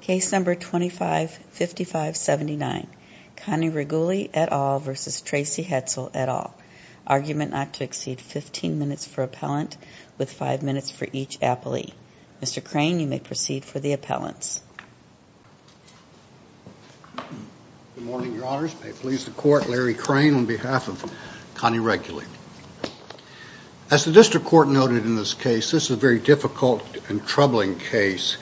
Case number 255579 Connie Reguli et al. versus Tracy Hetzel et al. Argument not to exceed 15 minutes for appellant with 5 minutes for each appellee. Mr. Crane you may proceed for the appellants. Good morning, your honors. May it please the court, Larry Crane on behalf of Connie Reguli. As the district court noted in this case, this is a very difficult and troubling case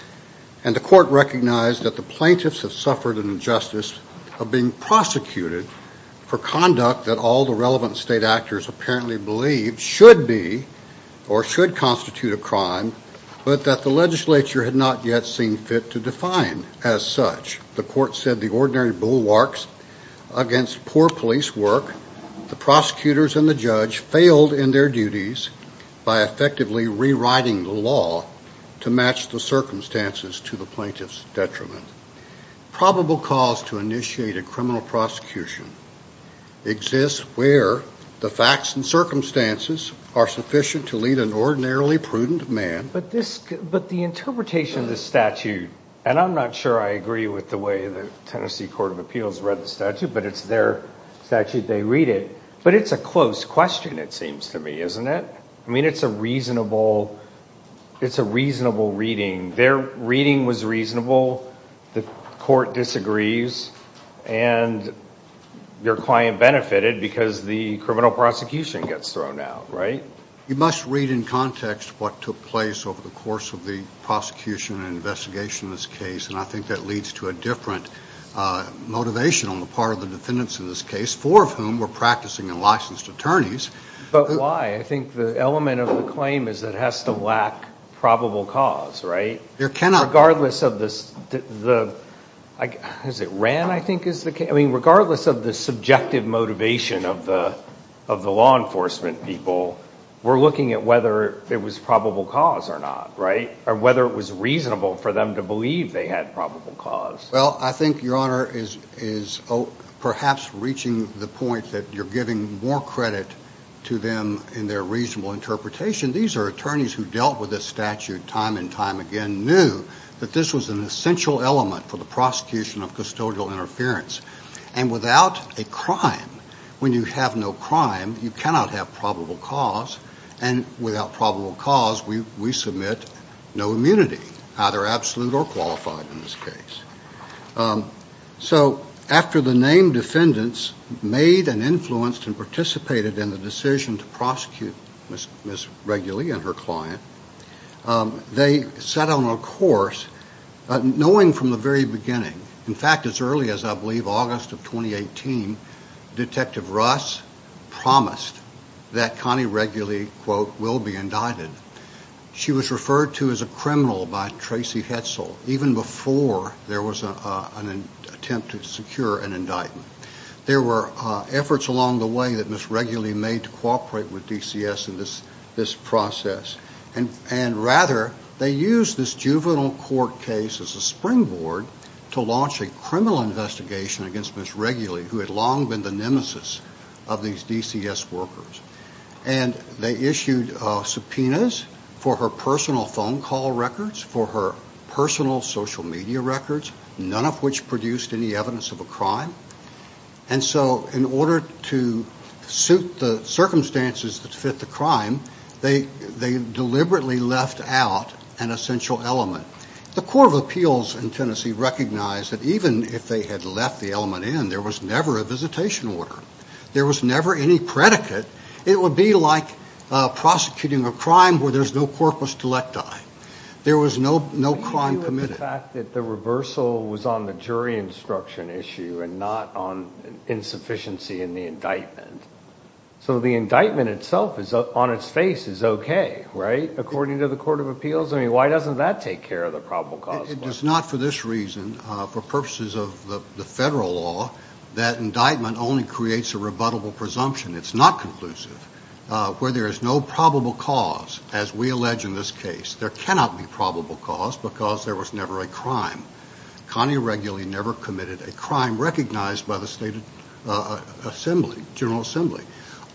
and the court recognized that the plaintiffs have suffered an injustice of being prosecuted for conduct that all the relevant state actors apparently believe should be or should constitute a crime, but that the legislature had not yet seen fit to define as such. The court said the ordinary bulwarks against poor police work, the prosecutors and the judge failed in their duties by effectively rewriting the law to match the circumstances to the plaintiff's detriment. Probable cause to initiate a criminal prosecution exists where the facts and circumstances are sufficient to lead an ordinarily prudent man. But this, but the interpretation of this statute, and I'm not sure I agree with the way the Tennessee Court of Appeals read the statute, but it's their statute, they read it, but it's a close question it seems to me, isn't it? I mean, it's a reasonable, it's a reasonable reading. Their reading was reasonable, the court disagrees, and your client benefited because the criminal prosecution gets thrown out, right? You must read in context what took place over the course of the prosecution and investigation in this case, and I think that leads to a different motivation on the part of the defendants in this case, four of whom were practicing and licensed attorneys. But why? I think the element of the claim is that it has to lack probable cause, right? There cannot be. Regardless of this, the, has it ran, I think is the case. I mean, regardless of the subjective motivation of the of the law enforcement people, we're looking at whether it was probable cause or not, right? Or whether it was reasonable for them to believe they had probable cause. Well, I think your honor is perhaps reaching the point that you're giving more credit to them in their reasonable interpretation. These are attorneys who dealt with this statute time and time again, knew that this was an essential element for the prosecution of custodial interference. And without a crime, when you have no crime, you cannot have probable cause, and without probable cause, we submit no immunity, either absolute or qualified in this case. So after the named defendants made and influenced and participated in the decision to prosecute Miss Reguli and her client, they set on a course, knowing from the very beginning, in fact as early as I believe August of 2018, Detective Russ promised that Connie Reguli, quote, will be indicted. She was referred to as a criminal by Tracy Hetzel, even before there was an attempt to secure an indictment. There were efforts along the way that Miss Reguli made to cooperate with DCS in this process. And rather, they used this juvenile court case as a springboard to launch a criminal investigation against Miss Reguli, who had long been the nemesis of these DCS workers. And they issued subpoenas for her personal phone call records, for her personal social media records, none of which produced any evidence of a crime. And so in order to suit the circumstances that fit the crime, they deliberately left out an essential element. The Court of Appeals in Tennessee recognized that even if they had left the element in, there was never a visitation order. There was never any predicate. It would be like prosecuting a crime where there's no corpus delecti. There was no crime committed. The fact that the reversal was on the jury instruction issue and not on insufficiency in the indictment. So the indictment itself, on its face, is okay, right, according to the Court of Appeals? I mean, why doesn't that take care of the probable cause? It does not for this reason. For purposes of the federal law, that indictment only creates a rebuttable presumption. It's not conclusive. Where there is no probable cause, as we allege in this case, there cannot be probable cause because there was never a crime. Connie Reguli never committed a crime recognized by the state assembly, General Assembly.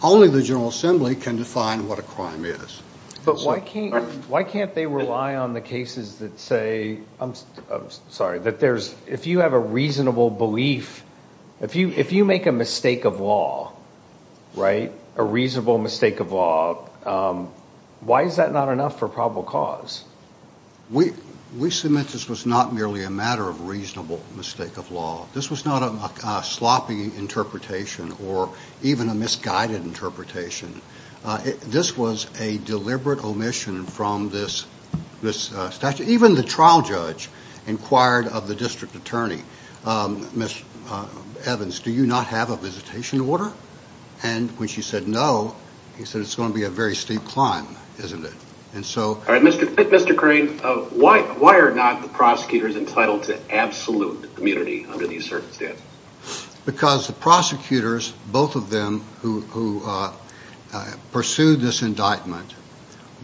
Only the General Assembly can define what a crime is. But why can't, why can't they rely on the cases that say, I'm sorry, that there's, if you have a reasonable belief, if you, if you make a mistake of law, right, a reasonable mistake of law, why is that not enough for probable cause? We, we submit this was not merely a matter of reasonable mistake of law. This was not a sloppy interpretation or even a misguided interpretation. This was a deliberate omission from this, this statute. Even the trial judge inquired of the district attorney, Miss Evans, do you not have a visitation order? And when she said no, he said, it's going to be a very steep climb, isn't it? And so... All right, Mr. Crane, why, why are not the prosecutors entitled to absolute immunity under these circumstances? Because the prosecutors, both of them, who pursued this indictment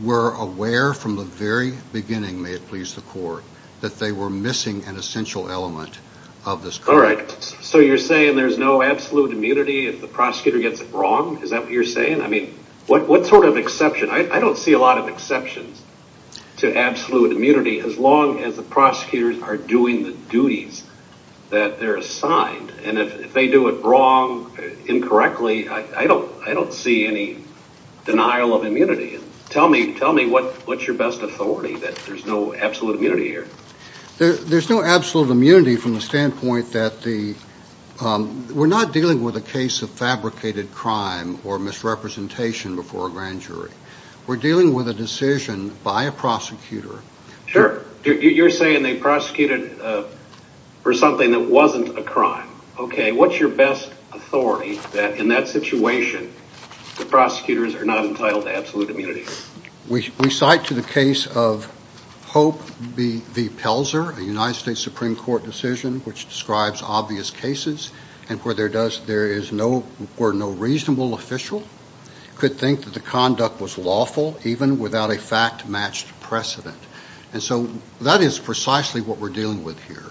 were aware from the very beginning, may it please the court, that they were missing an essential element of this. All right. So you're saying there's no absolute immunity if the prosecutor gets it wrong? Is that what you're saying? I mean, what, what sort of exception? I, I don't see a lot of exceptions to absolute immunity, as long as the prosecutors are doing the duties that they're assigned. And if they do it wrong, incorrectly, I, I don't, I don't see any denial of immunity. Tell me, tell me what, what's your best authority, that there's no absolute immunity here? There, there's no absolute immunity from the standpoint that the, we're not dealing with a case of fabricated crime or misrepresentation before a grand jury. We're dealing with a decision by a prosecutor. Sure, you're saying they prosecuted for something that wasn't a crime. Okay, what's your best authority, that in that situation, the prosecutors are not entitled to absolute immunity? We, we cite to the case of Hope v. Pelzer, a United States Supreme Court decision, which describes obvious cases, and where there does, there is no, where no reasonable official could think that the conduct was lawful, even without a fact-matched precedent. And so that is precisely what we're dealing with here.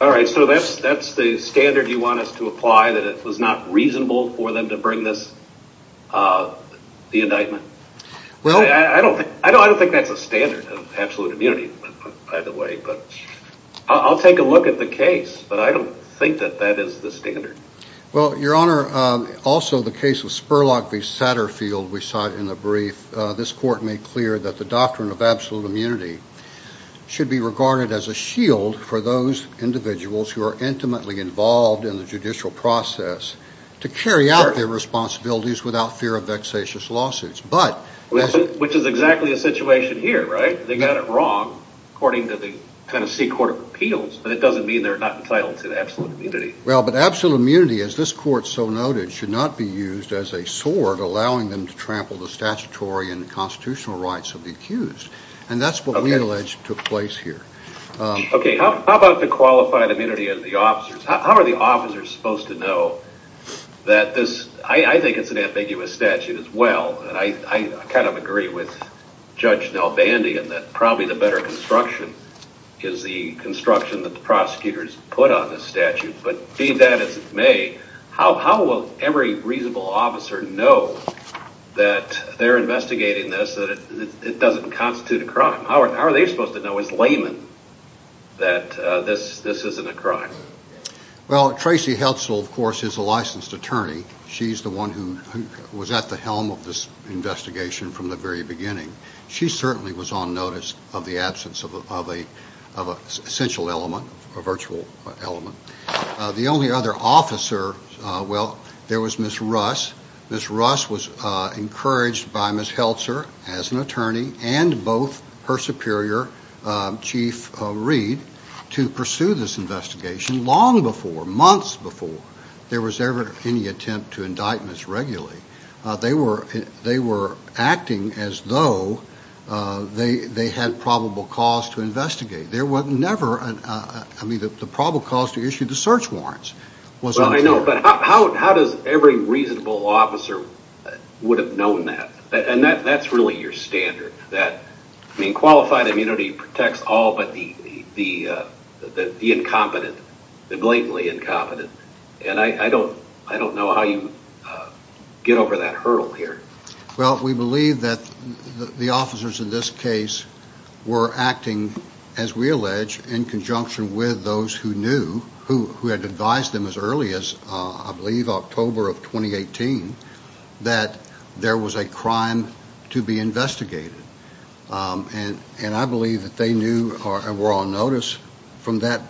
All right, so that's, that's the standard you want us to apply, that it was not reasonable for them to bring this, the indictment? Well, I don't, I don't, I don't think that's a standard of absolute immunity, by the way, but I'll take a look at the case, but I don't think that that is the standard. Well, Your Honor, also the case of Spurlock v. Satterfield, we saw it in a brief, this court made clear that the doctrine of absolute immunity should be regarded as a shield for those individuals who are intimately involved in the judicial process to carry out their responsibilities without fear of vexatious lawsuits, but... Which is exactly a situation here, right? They got it wrong, according to the Tennessee Court of Appeals, but it doesn't mean they're not entitled to absolute immunity. Well, but absolute immunity, as this court so noted, should not be used as a sword allowing them to trample the statutory and constitutional rights of the accused, and that's what we allege took place here. Okay, how about the qualified immunity of the officers? How are the officers supposed to know that this, I think it's an ambiguous statute as well, and I kind of agree with Judge Nel Bandy in that probably the better construction is the construction that the prosecutors put on this statute, but being that it's made, how will every reasonable officer know that they're investigating this, that it doesn't constitute a crime? How are they supposed to know as laymen that this isn't a crime? Well, Tracy Heltzel, of course, is a licensed attorney. She's the one who was at the helm of this investigation from the very beginning. She certainly was on notice of the absence of a essential element, a virtual element. The only other officer, well, there was Ms. Russ. Ms. Russ was encouraged by Ms. Heltzel as an attorney and both her superior Chief Reed, to pursue this investigation long before, months before, there was ever any attempt to indict Ms. Regula. They were acting as though they had probable cause to investigate. There was never, I mean, the probable cause to issue the search warrants. Well, I know, but how does every reasonable officer would have known that? And that's really your standard, that, I mean, qualified immunity protects all but the incompetent, the blatantly incompetent, and I don't know how you get over that hurdle here. Well, we believe that the officers in this case were acting, as we allege, in conjunction with those who knew, who had advised them as early as, I believe, October of 2018, that there was a crime to be investigated. And I believe that they knew and were on notice from that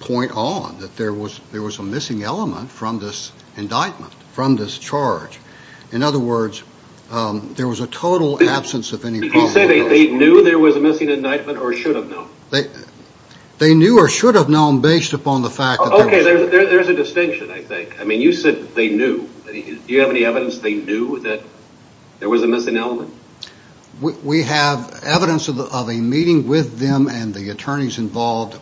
point on, that there was a missing element from this indictment, from this charge. In other words, there was a total absence of any probable cause. You say they knew there was a missing indictment or should have known? They knew or should have known based upon the fact that... Okay, there's a distinction, I think. I mean, you said they knew. Do you have any evidence they knew that there was a missing element? We have evidence of a meeting with them and the attorneys involved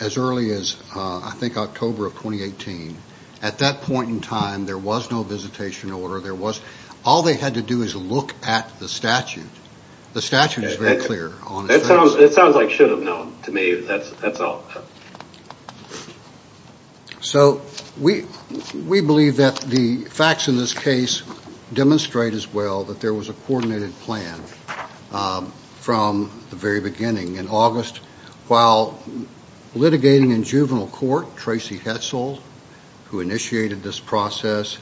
as early as, I think, October of 2018. At that point in time, there was no visitation order. There was. All they had to do is look at the statute. The statute is very clear. That sounds like should have known to me. That's all. So, we believe that the facts in this case demonstrate as well that there was a coordinated plan from the very beginning. In August, while litigating in juvenile court, Tracy Hetzel, who initiated this process,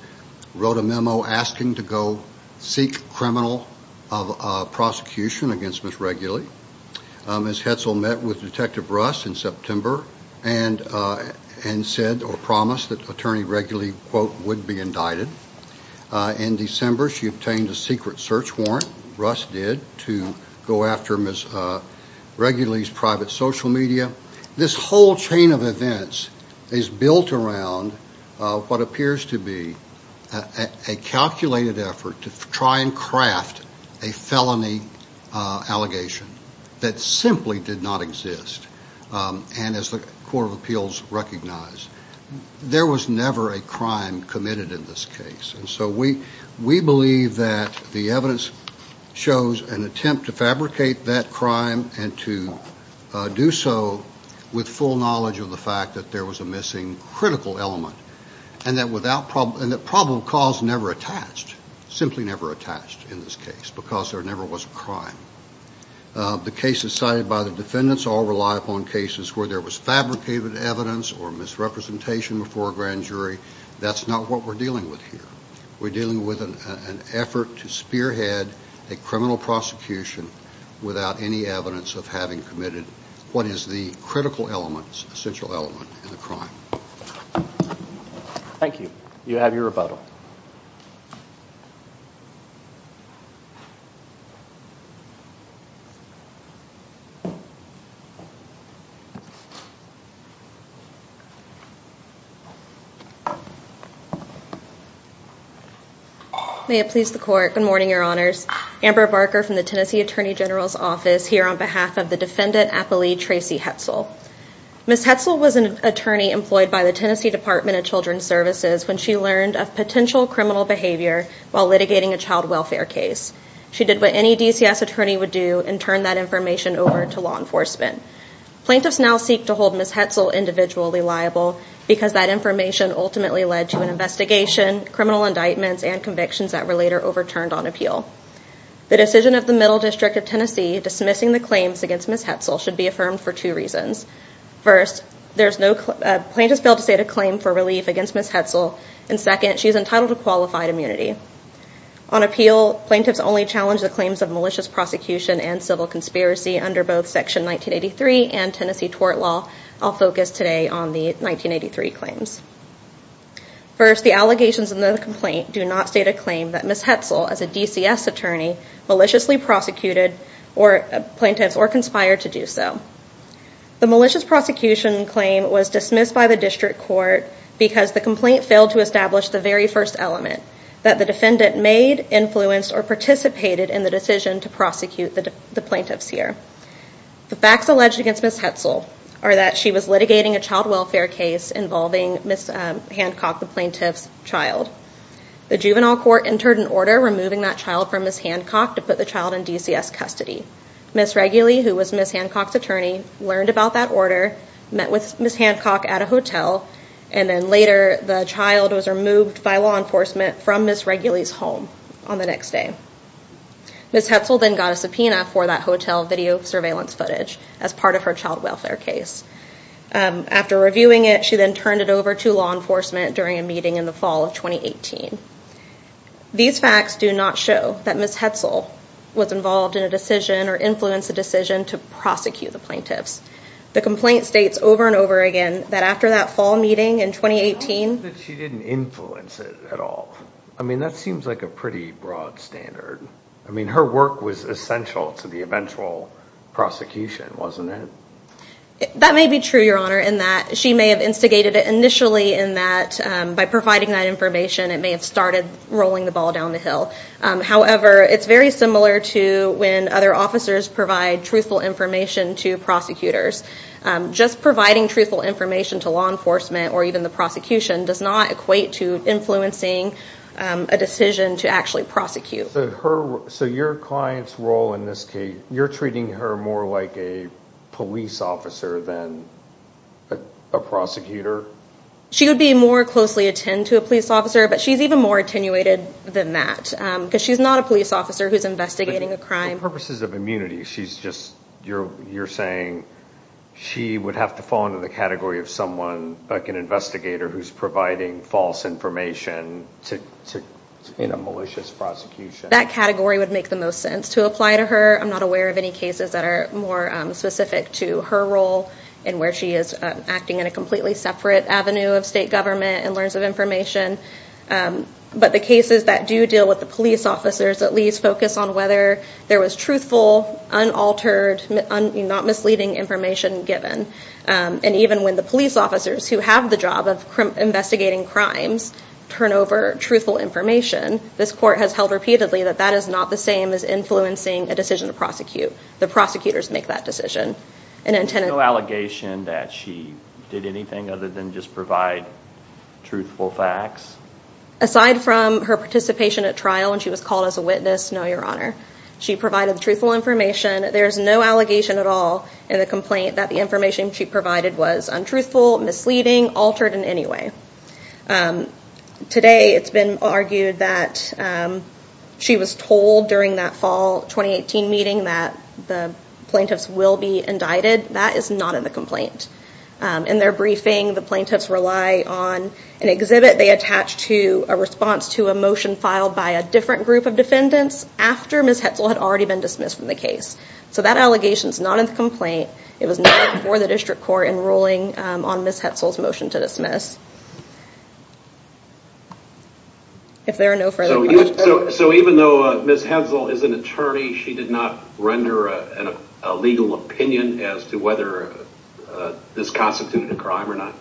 wrote a memo asking to go seek criminal prosecution against Ms. Reguli. Ms. Hetzel met with Detective Russ in September and said or promised that Attorney Reguli would be indicted. In December, she obtained a secret search warrant, Russ did, to go after Ms. Reguli's private social media. This whole chain of events is built around what appears to be a felony allegation that simply did not exist. And as the Court of Appeals recognized, there was never a crime committed in this case. And so, we believe that the evidence shows an attempt to fabricate that crime and to do so with full knowledge of the fact that there was a missing critical element. And that probable cause never attached, simply never attached in this case, because there never was a crime. The cases cited by the defendants all rely upon cases where there was fabricated evidence or misrepresentation before a grand jury. That's not what we're dealing with here. We're dealing with an effort to spearhead a criminal prosecution without any evidence of having committed what is the critical element, essential element, in the crime. Thank you. You have your rebuttal. May it please the Court. Good morning, Your Honors. Amber Barker from the Tennessee Attorney General's Office, here on behalf of the defendant appellee, Tracy Hetzel. Ms. Hetzel was an attorney employed by the Tennessee Department of Children's Services when she learned of potential criminal behavior while litigating a child welfare case. She did what any DCS attorney would do and turn that information over to law enforcement. Plaintiffs now seek to hold Ms. Hetzel individually liable because that information ultimately led to an investigation, criminal indictments, and convictions that were later overturned on appeal. The decision of the Middle District of Tennessee dismissing the claims against Ms. Hetzel should be affirmed for two reasons. First, plaintiffs failed to state a claim for relief against Ms. Hetzel, and second, she's entitled to qualified immunity. On appeal, plaintiffs only challenged the claims of malicious prosecution and civil conspiracy under both Section 1983 and Tennessee tort law. I'll focus today on the 1983 claims. First, the allegations in the complaint do not state a claim that Ms. Hetzel, as a DCS attorney, maliciously prosecuted plaintiffs or conspired to do so. The malicious prosecution claim was dismissed by the District Court because the complaint failed to establish the very first element that the defendant made, influenced, or participated in the decision to prosecute the plaintiffs here. The facts alleged against Ms. Hetzel are that she was litigating a child welfare case involving Ms. Hancock, the plaintiff's child. The juvenile court entered an order removing that child from Ms. Hancock to put the child in DCS custody. Ms. Reguli, who was Ms. Hancock's attorney, learned about that order, met with Ms. Hancock at a hotel, and then later the child was removed by law enforcement from Ms. Reguli's home on the next day. Ms. Hetzel then got a subpoena for that hotel video surveillance footage as part of her child welfare case. After reviewing it, she then turned it over to law enforcement during a meeting in the fall of 2018. These facts do not show that Ms. Hetzel was involved in a decision or influenced a decision to prosecute the plaintiffs. The complaint states over and over again that after that fall meeting in 2018... How is it that she didn't influence it at all? I mean, that seems like a pretty broad standard. I mean, her work was essential to the eventual prosecution, wasn't it? That may be true, Your Honor, in that she may have instigated it initially in that by providing that information it may have started rolling the ball down the hill. However, it's very similar to when other officers provide truthful information to prosecutors. Just providing truthful information to law enforcement or even the prosecution does not equate to influencing a decision to actually prosecute. So your client's role in this case, you're treating her more like a police officer than a prosecutor? She would be more closely attend to a police officer, but she's even more attenuated than that because she's not a police officer who's investigating a crime. For purposes of immunity, she's just, you're saying she would have to fall into the category of someone like an investigator who's providing false information to a malicious prosecution. That category would make the most sense to apply to her. I'm not aware of any cases that are more specific to her role and where she is acting in a completely separate avenue of state government and learns of information. But the cases that do deal with the police officers at least focus on whether there was truthful, unaltered, not misleading information given. And even when the police officers who have the job of investigating crimes turn over truthful information, this court has held repeatedly that that is not the same as influencing a decision to prosecute. The prosecutors make that decision. Is there no allegation that she did anything other than just provide truthful facts? Aside from her participation at trial when she was called as a witness, no, your honor. She provided the truthful information. There's no allegation at all in the complaint that the information she provided was untruthful, misleading, altered in any way. Today it's been argued that she was told during that fall 2018 meeting that the plaintiffs will be indicted. That is not in the complaint. In their briefing, the plaintiffs rely on an exhibit they attach to a response to a motion filed by a different group of defendants after Ms. Hetzel had already been dismissed from the case. So that allegation is not in the complaint. It was not before the district court in ruling on Ms. Hetzel's motion to dismiss. If there are no further questions. So even though Ms. Hetzel is an attorney, she did not render a legal opinion as to whether this constituted a crime or not.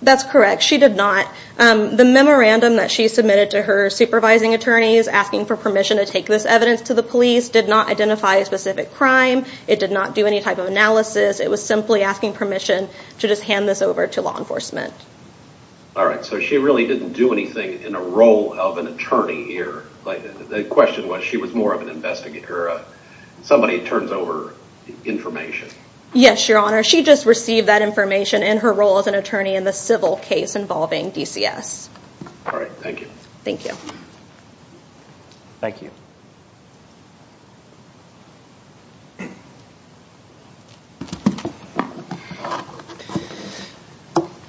That's correct. She did not. The memorandum that she submitted to her supervising attorneys asking for permission to take this evidence to the police did not identify a specific crime. It did not do any type of analysis. It was simply asking permission to just hand this over to law enforcement. All right, so she really didn't do anything in a role of an attorney here. The question was, she was more of an investigator. Somebody turns over information. Yes, Your Honor. She just received that information in her role as an attorney in the civil case involving DCS. All right. Thank you. Thank you. Thank you.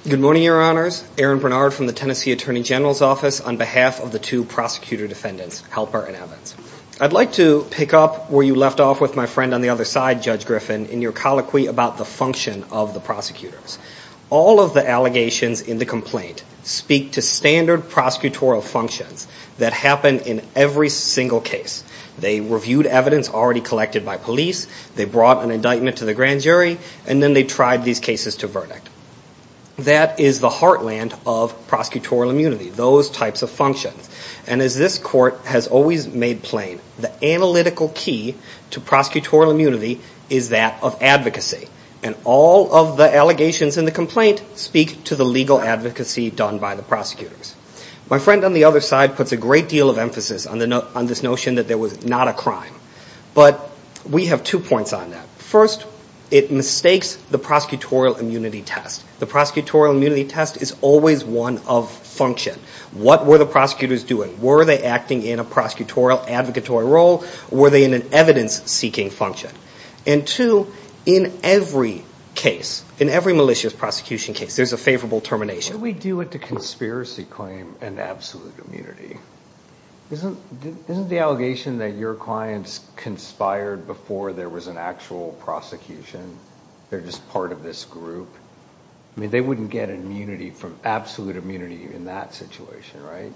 Good morning, Your Honors. Aaron Bernard from the Tennessee Attorney General's Office on behalf of the two prosecutor defendants, Halpert and Evans. I'd like to pick up where you left off with my friend on the other side, Judge Griffin, in your colloquy about the function of the prosecutors. All of the allegations in the complaint speak to standard prosecutorial functions that happen in every single case. They reviewed evidence already collected. They reviewed evidence that was already collected. They brought an indictment to the grand jury, and then they tried these cases to verdict. That is the heartland of prosecutorial immunity, those types of functions. And as this court has always made plain, the analytical key to prosecutorial immunity is that of advocacy. And all of the allegations in the complaint speak to the legal advocacy done by the prosecutors. My friend on the other side puts a great deal of emphasis on this notion that there was not a crime. But we have two points on that. First, it mistakes the prosecutorial immunity test. The prosecutorial immunity test is always one of function. What were the prosecutors doing? Were they acting in a prosecutorial advocatory role? Were they in an evidence-seeking function? And two, in every case, in every malicious prosecution case, there's a favorable termination. How do we deal with the conspiracy claim and absolute immunity? Isn't the allegation that your clients conspired before there was an actual prosecution? They're just part of this group? I mean, they wouldn't get immunity from absolute immunity in that situation, right?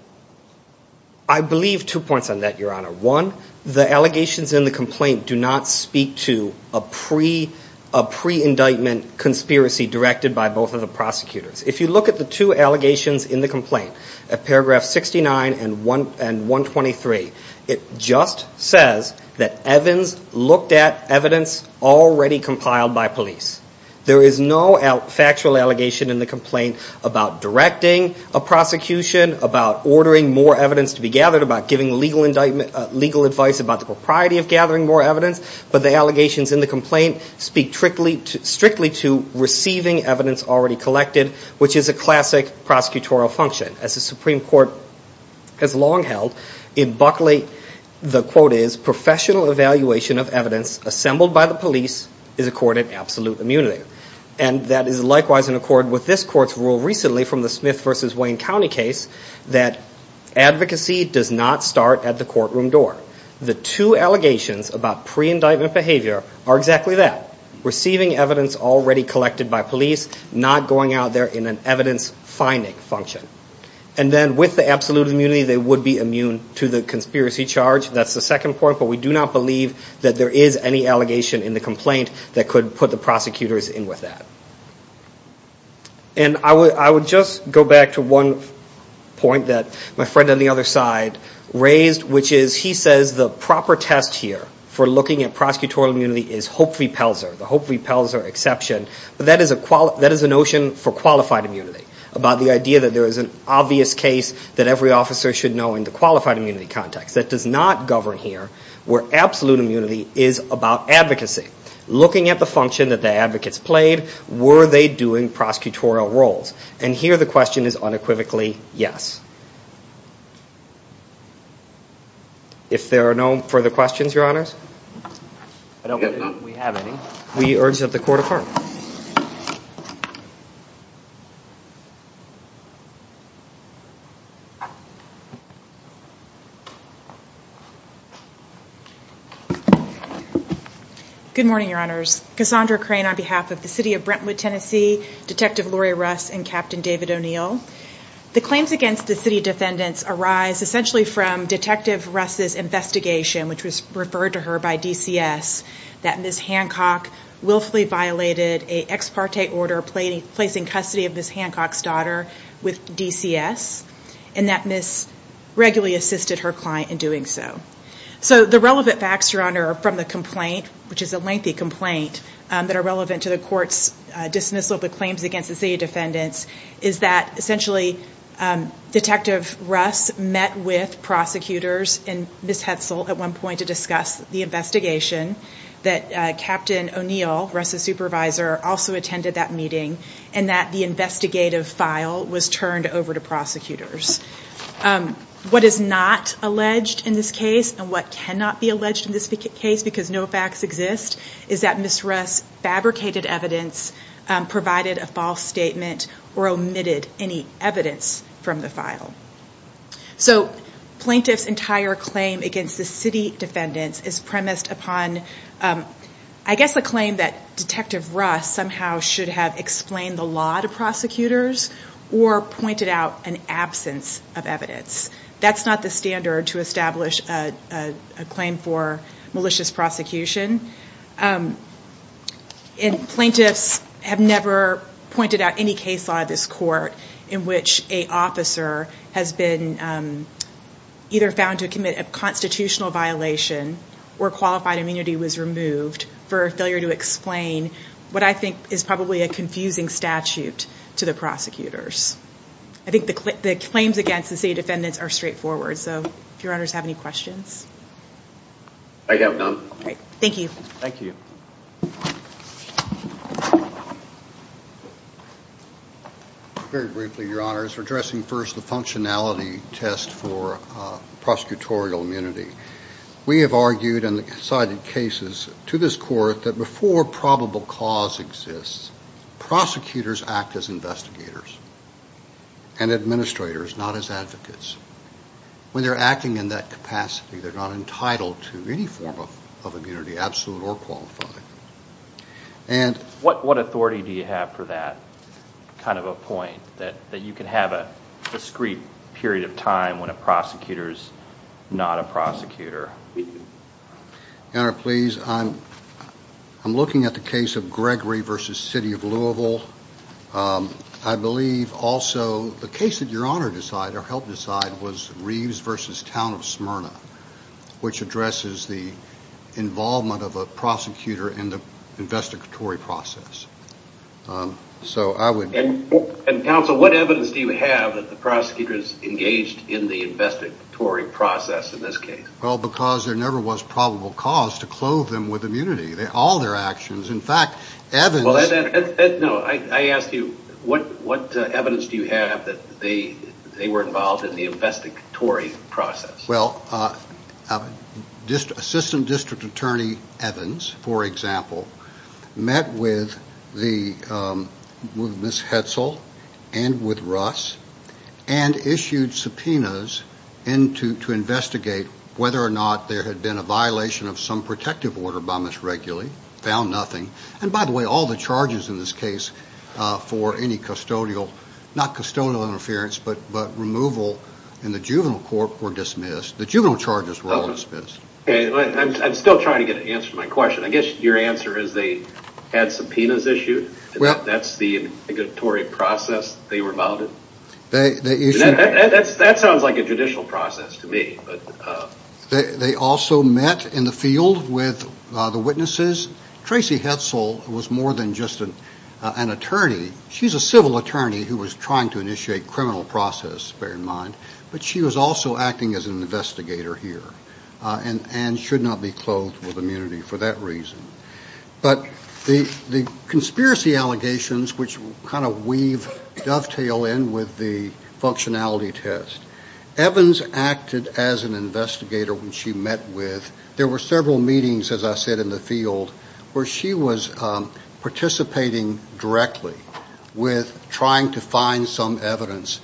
I believe two points on that, Your Honor. One, the allegations in the complaint do not speak to a pre-indictment conspiracy directed by both of the prosecutors. If you look at the two allegations in the complaint, at paragraph 69 and 123, it just says that Evans looked at evidence already compiled by police. There is no factual allegation in the complaint about directing a prosecution, about ordering more evidence to be gathered, about giving legal advice about the propriety of gathering more evidence. But the allegations in the complaint speak strictly to receiving evidence already collected, which is a classic prosecutorial function. As the Supreme Court has long held, in Buckley, the quote is, professional evaluation of evidence assembled by the police is accorded absolute immunity. And that is likewise in accord with this Court's rule recently from the Smith v. Wayne County case that advocacy does not start at the courtroom door. The two allegations about pre-indictment behavior are exactly that, receiving evidence already collected by police, not going out there in an evidence-finding function. And then with the absolute immunity, they would be immune to the conspiracy charge. That's the second point, but we do not believe that there is any allegation in the complaint that could put the prosecutors in with that. And I would just go back to one point that my friend on the other side raised, which is he says the proper test here for looking at prosecutorial immunity is Hope v. Pelzer, the Hope v. Pelzer exception, but that is a notion for qualified immunity, about the idea that there is an obvious case that every officer should know in the qualified immunity context. That does not govern here, where absolute immunity is about advocacy. Looking at the function that the advocates played, were they doing prosecutorial roles? And here the question is unequivocally yes. If there are no further questions, Your Honors. I don't believe we have any. We urge that the court affirm. Good morning, Your Honors. Cassandra Crane on behalf of the City of Brentwood, Tennessee, Detective Laurie Russ, and Captain David O'Neill. The claims against the city defendants arise essentially from Detective Russ's investigation, which was referred to her by DCS, that Ms. Hancock willfully violated an ex parte order placing custody of Ms. Hancock's daughter with DCS, and that Ms. regularly assisted her client in doing so. The relevant facts, Your Honor, from the complaint, which is a lengthy complaint, that are relevant to the court's dismissal of the claims against the city defendants, is that essentially Detective Russ met with prosecutors and Ms. Hetzel at one point to discuss the investigation, that Captain O'Neill, Russ's supervisor, also attended that meeting, and that the investigative file was turned over to prosecutors. What is not alleged in this case, and what cannot be alleged in this case because no facts exist, is that Ms. Russ fabricated evidence, provided a false statement, or omitted any evidence from the file. So plaintiff's entire claim against the city defendants is premised upon, I guess, a claim that Detective Russ somehow should have explained the law to prosecutors, or pointed out an absence of evidence. That's not the standard to establish a claim for malicious prosecution. And plaintiffs have never pointed out any case law in this court in which an officer has been either found to commit a constitutional violation or qualified immunity was removed for failure to explain what I think is probably a confusing statute to the prosecutors. I think the claims against the city defendants are straightforward. So if Your Honors have any questions. Your Honor, briefly, Your Honors, addressing first the functionality test for prosecutorial immunity. We have argued and cited cases to this court that before probable cause exists, prosecutors act as investigators and administrators, not as advocates. When they're acting in that capacity, they're not entitled to any form of immunity, absolute or qualified. What authority do you have for that kind of a point, that you can have a discrete period of time when a prosecutor is not a prosecutor? Your Honor, please, I'm looking at the case of Gregory v. City of Louisville. I believe also the case that Your Honor helped decide was Reeves v. Town of Smyrna, which addresses the involvement of a prosecutor in the investigatory process. And counsel, what evidence do you have that the prosecutors engaged in the investigatory process in this case? Well, because there never was probable cause to clothe them with immunity. All their actions, in fact, Evans... No, I asked you, what evidence do you have that they were involved in the investigatory process? Well, Assistant District Attorney Evans, for example, met with Ms. Hetzel and with Russ and issued subpoenas to investigate whether or not there had been a violation of some protective order by Ms. Reguli. Found nothing. And by the way, all the charges in this case for any custodial, not custodial interference, but removal in the juvenile court were dismissed. The juvenile charges were all dismissed. I'm still trying to get an answer to my question. I guess your answer is they had subpoenas issued. That's the investigatory process they were involved in. That sounds like a judicial process to me. They also met in the field with the witnesses. Tracy Hetzel was more than just an attorney. She's a civil attorney who was trying to initiate criminal process, bear in mind, but she was also acting as an investigator here and should not be clothed with immunity for that reason. But the conspiracy allegations, which kind of dovetail in with the functionality test, Evans acted as an investigator when she met with... as I said, in the field where she was participating directly with trying to find some evidence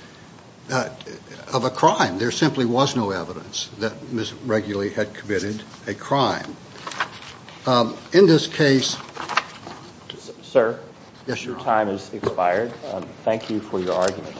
of a crime. There simply was no evidence that Ms Reguli had committed a crime. In this case... Sir, your time has expired. Thank you for your argument.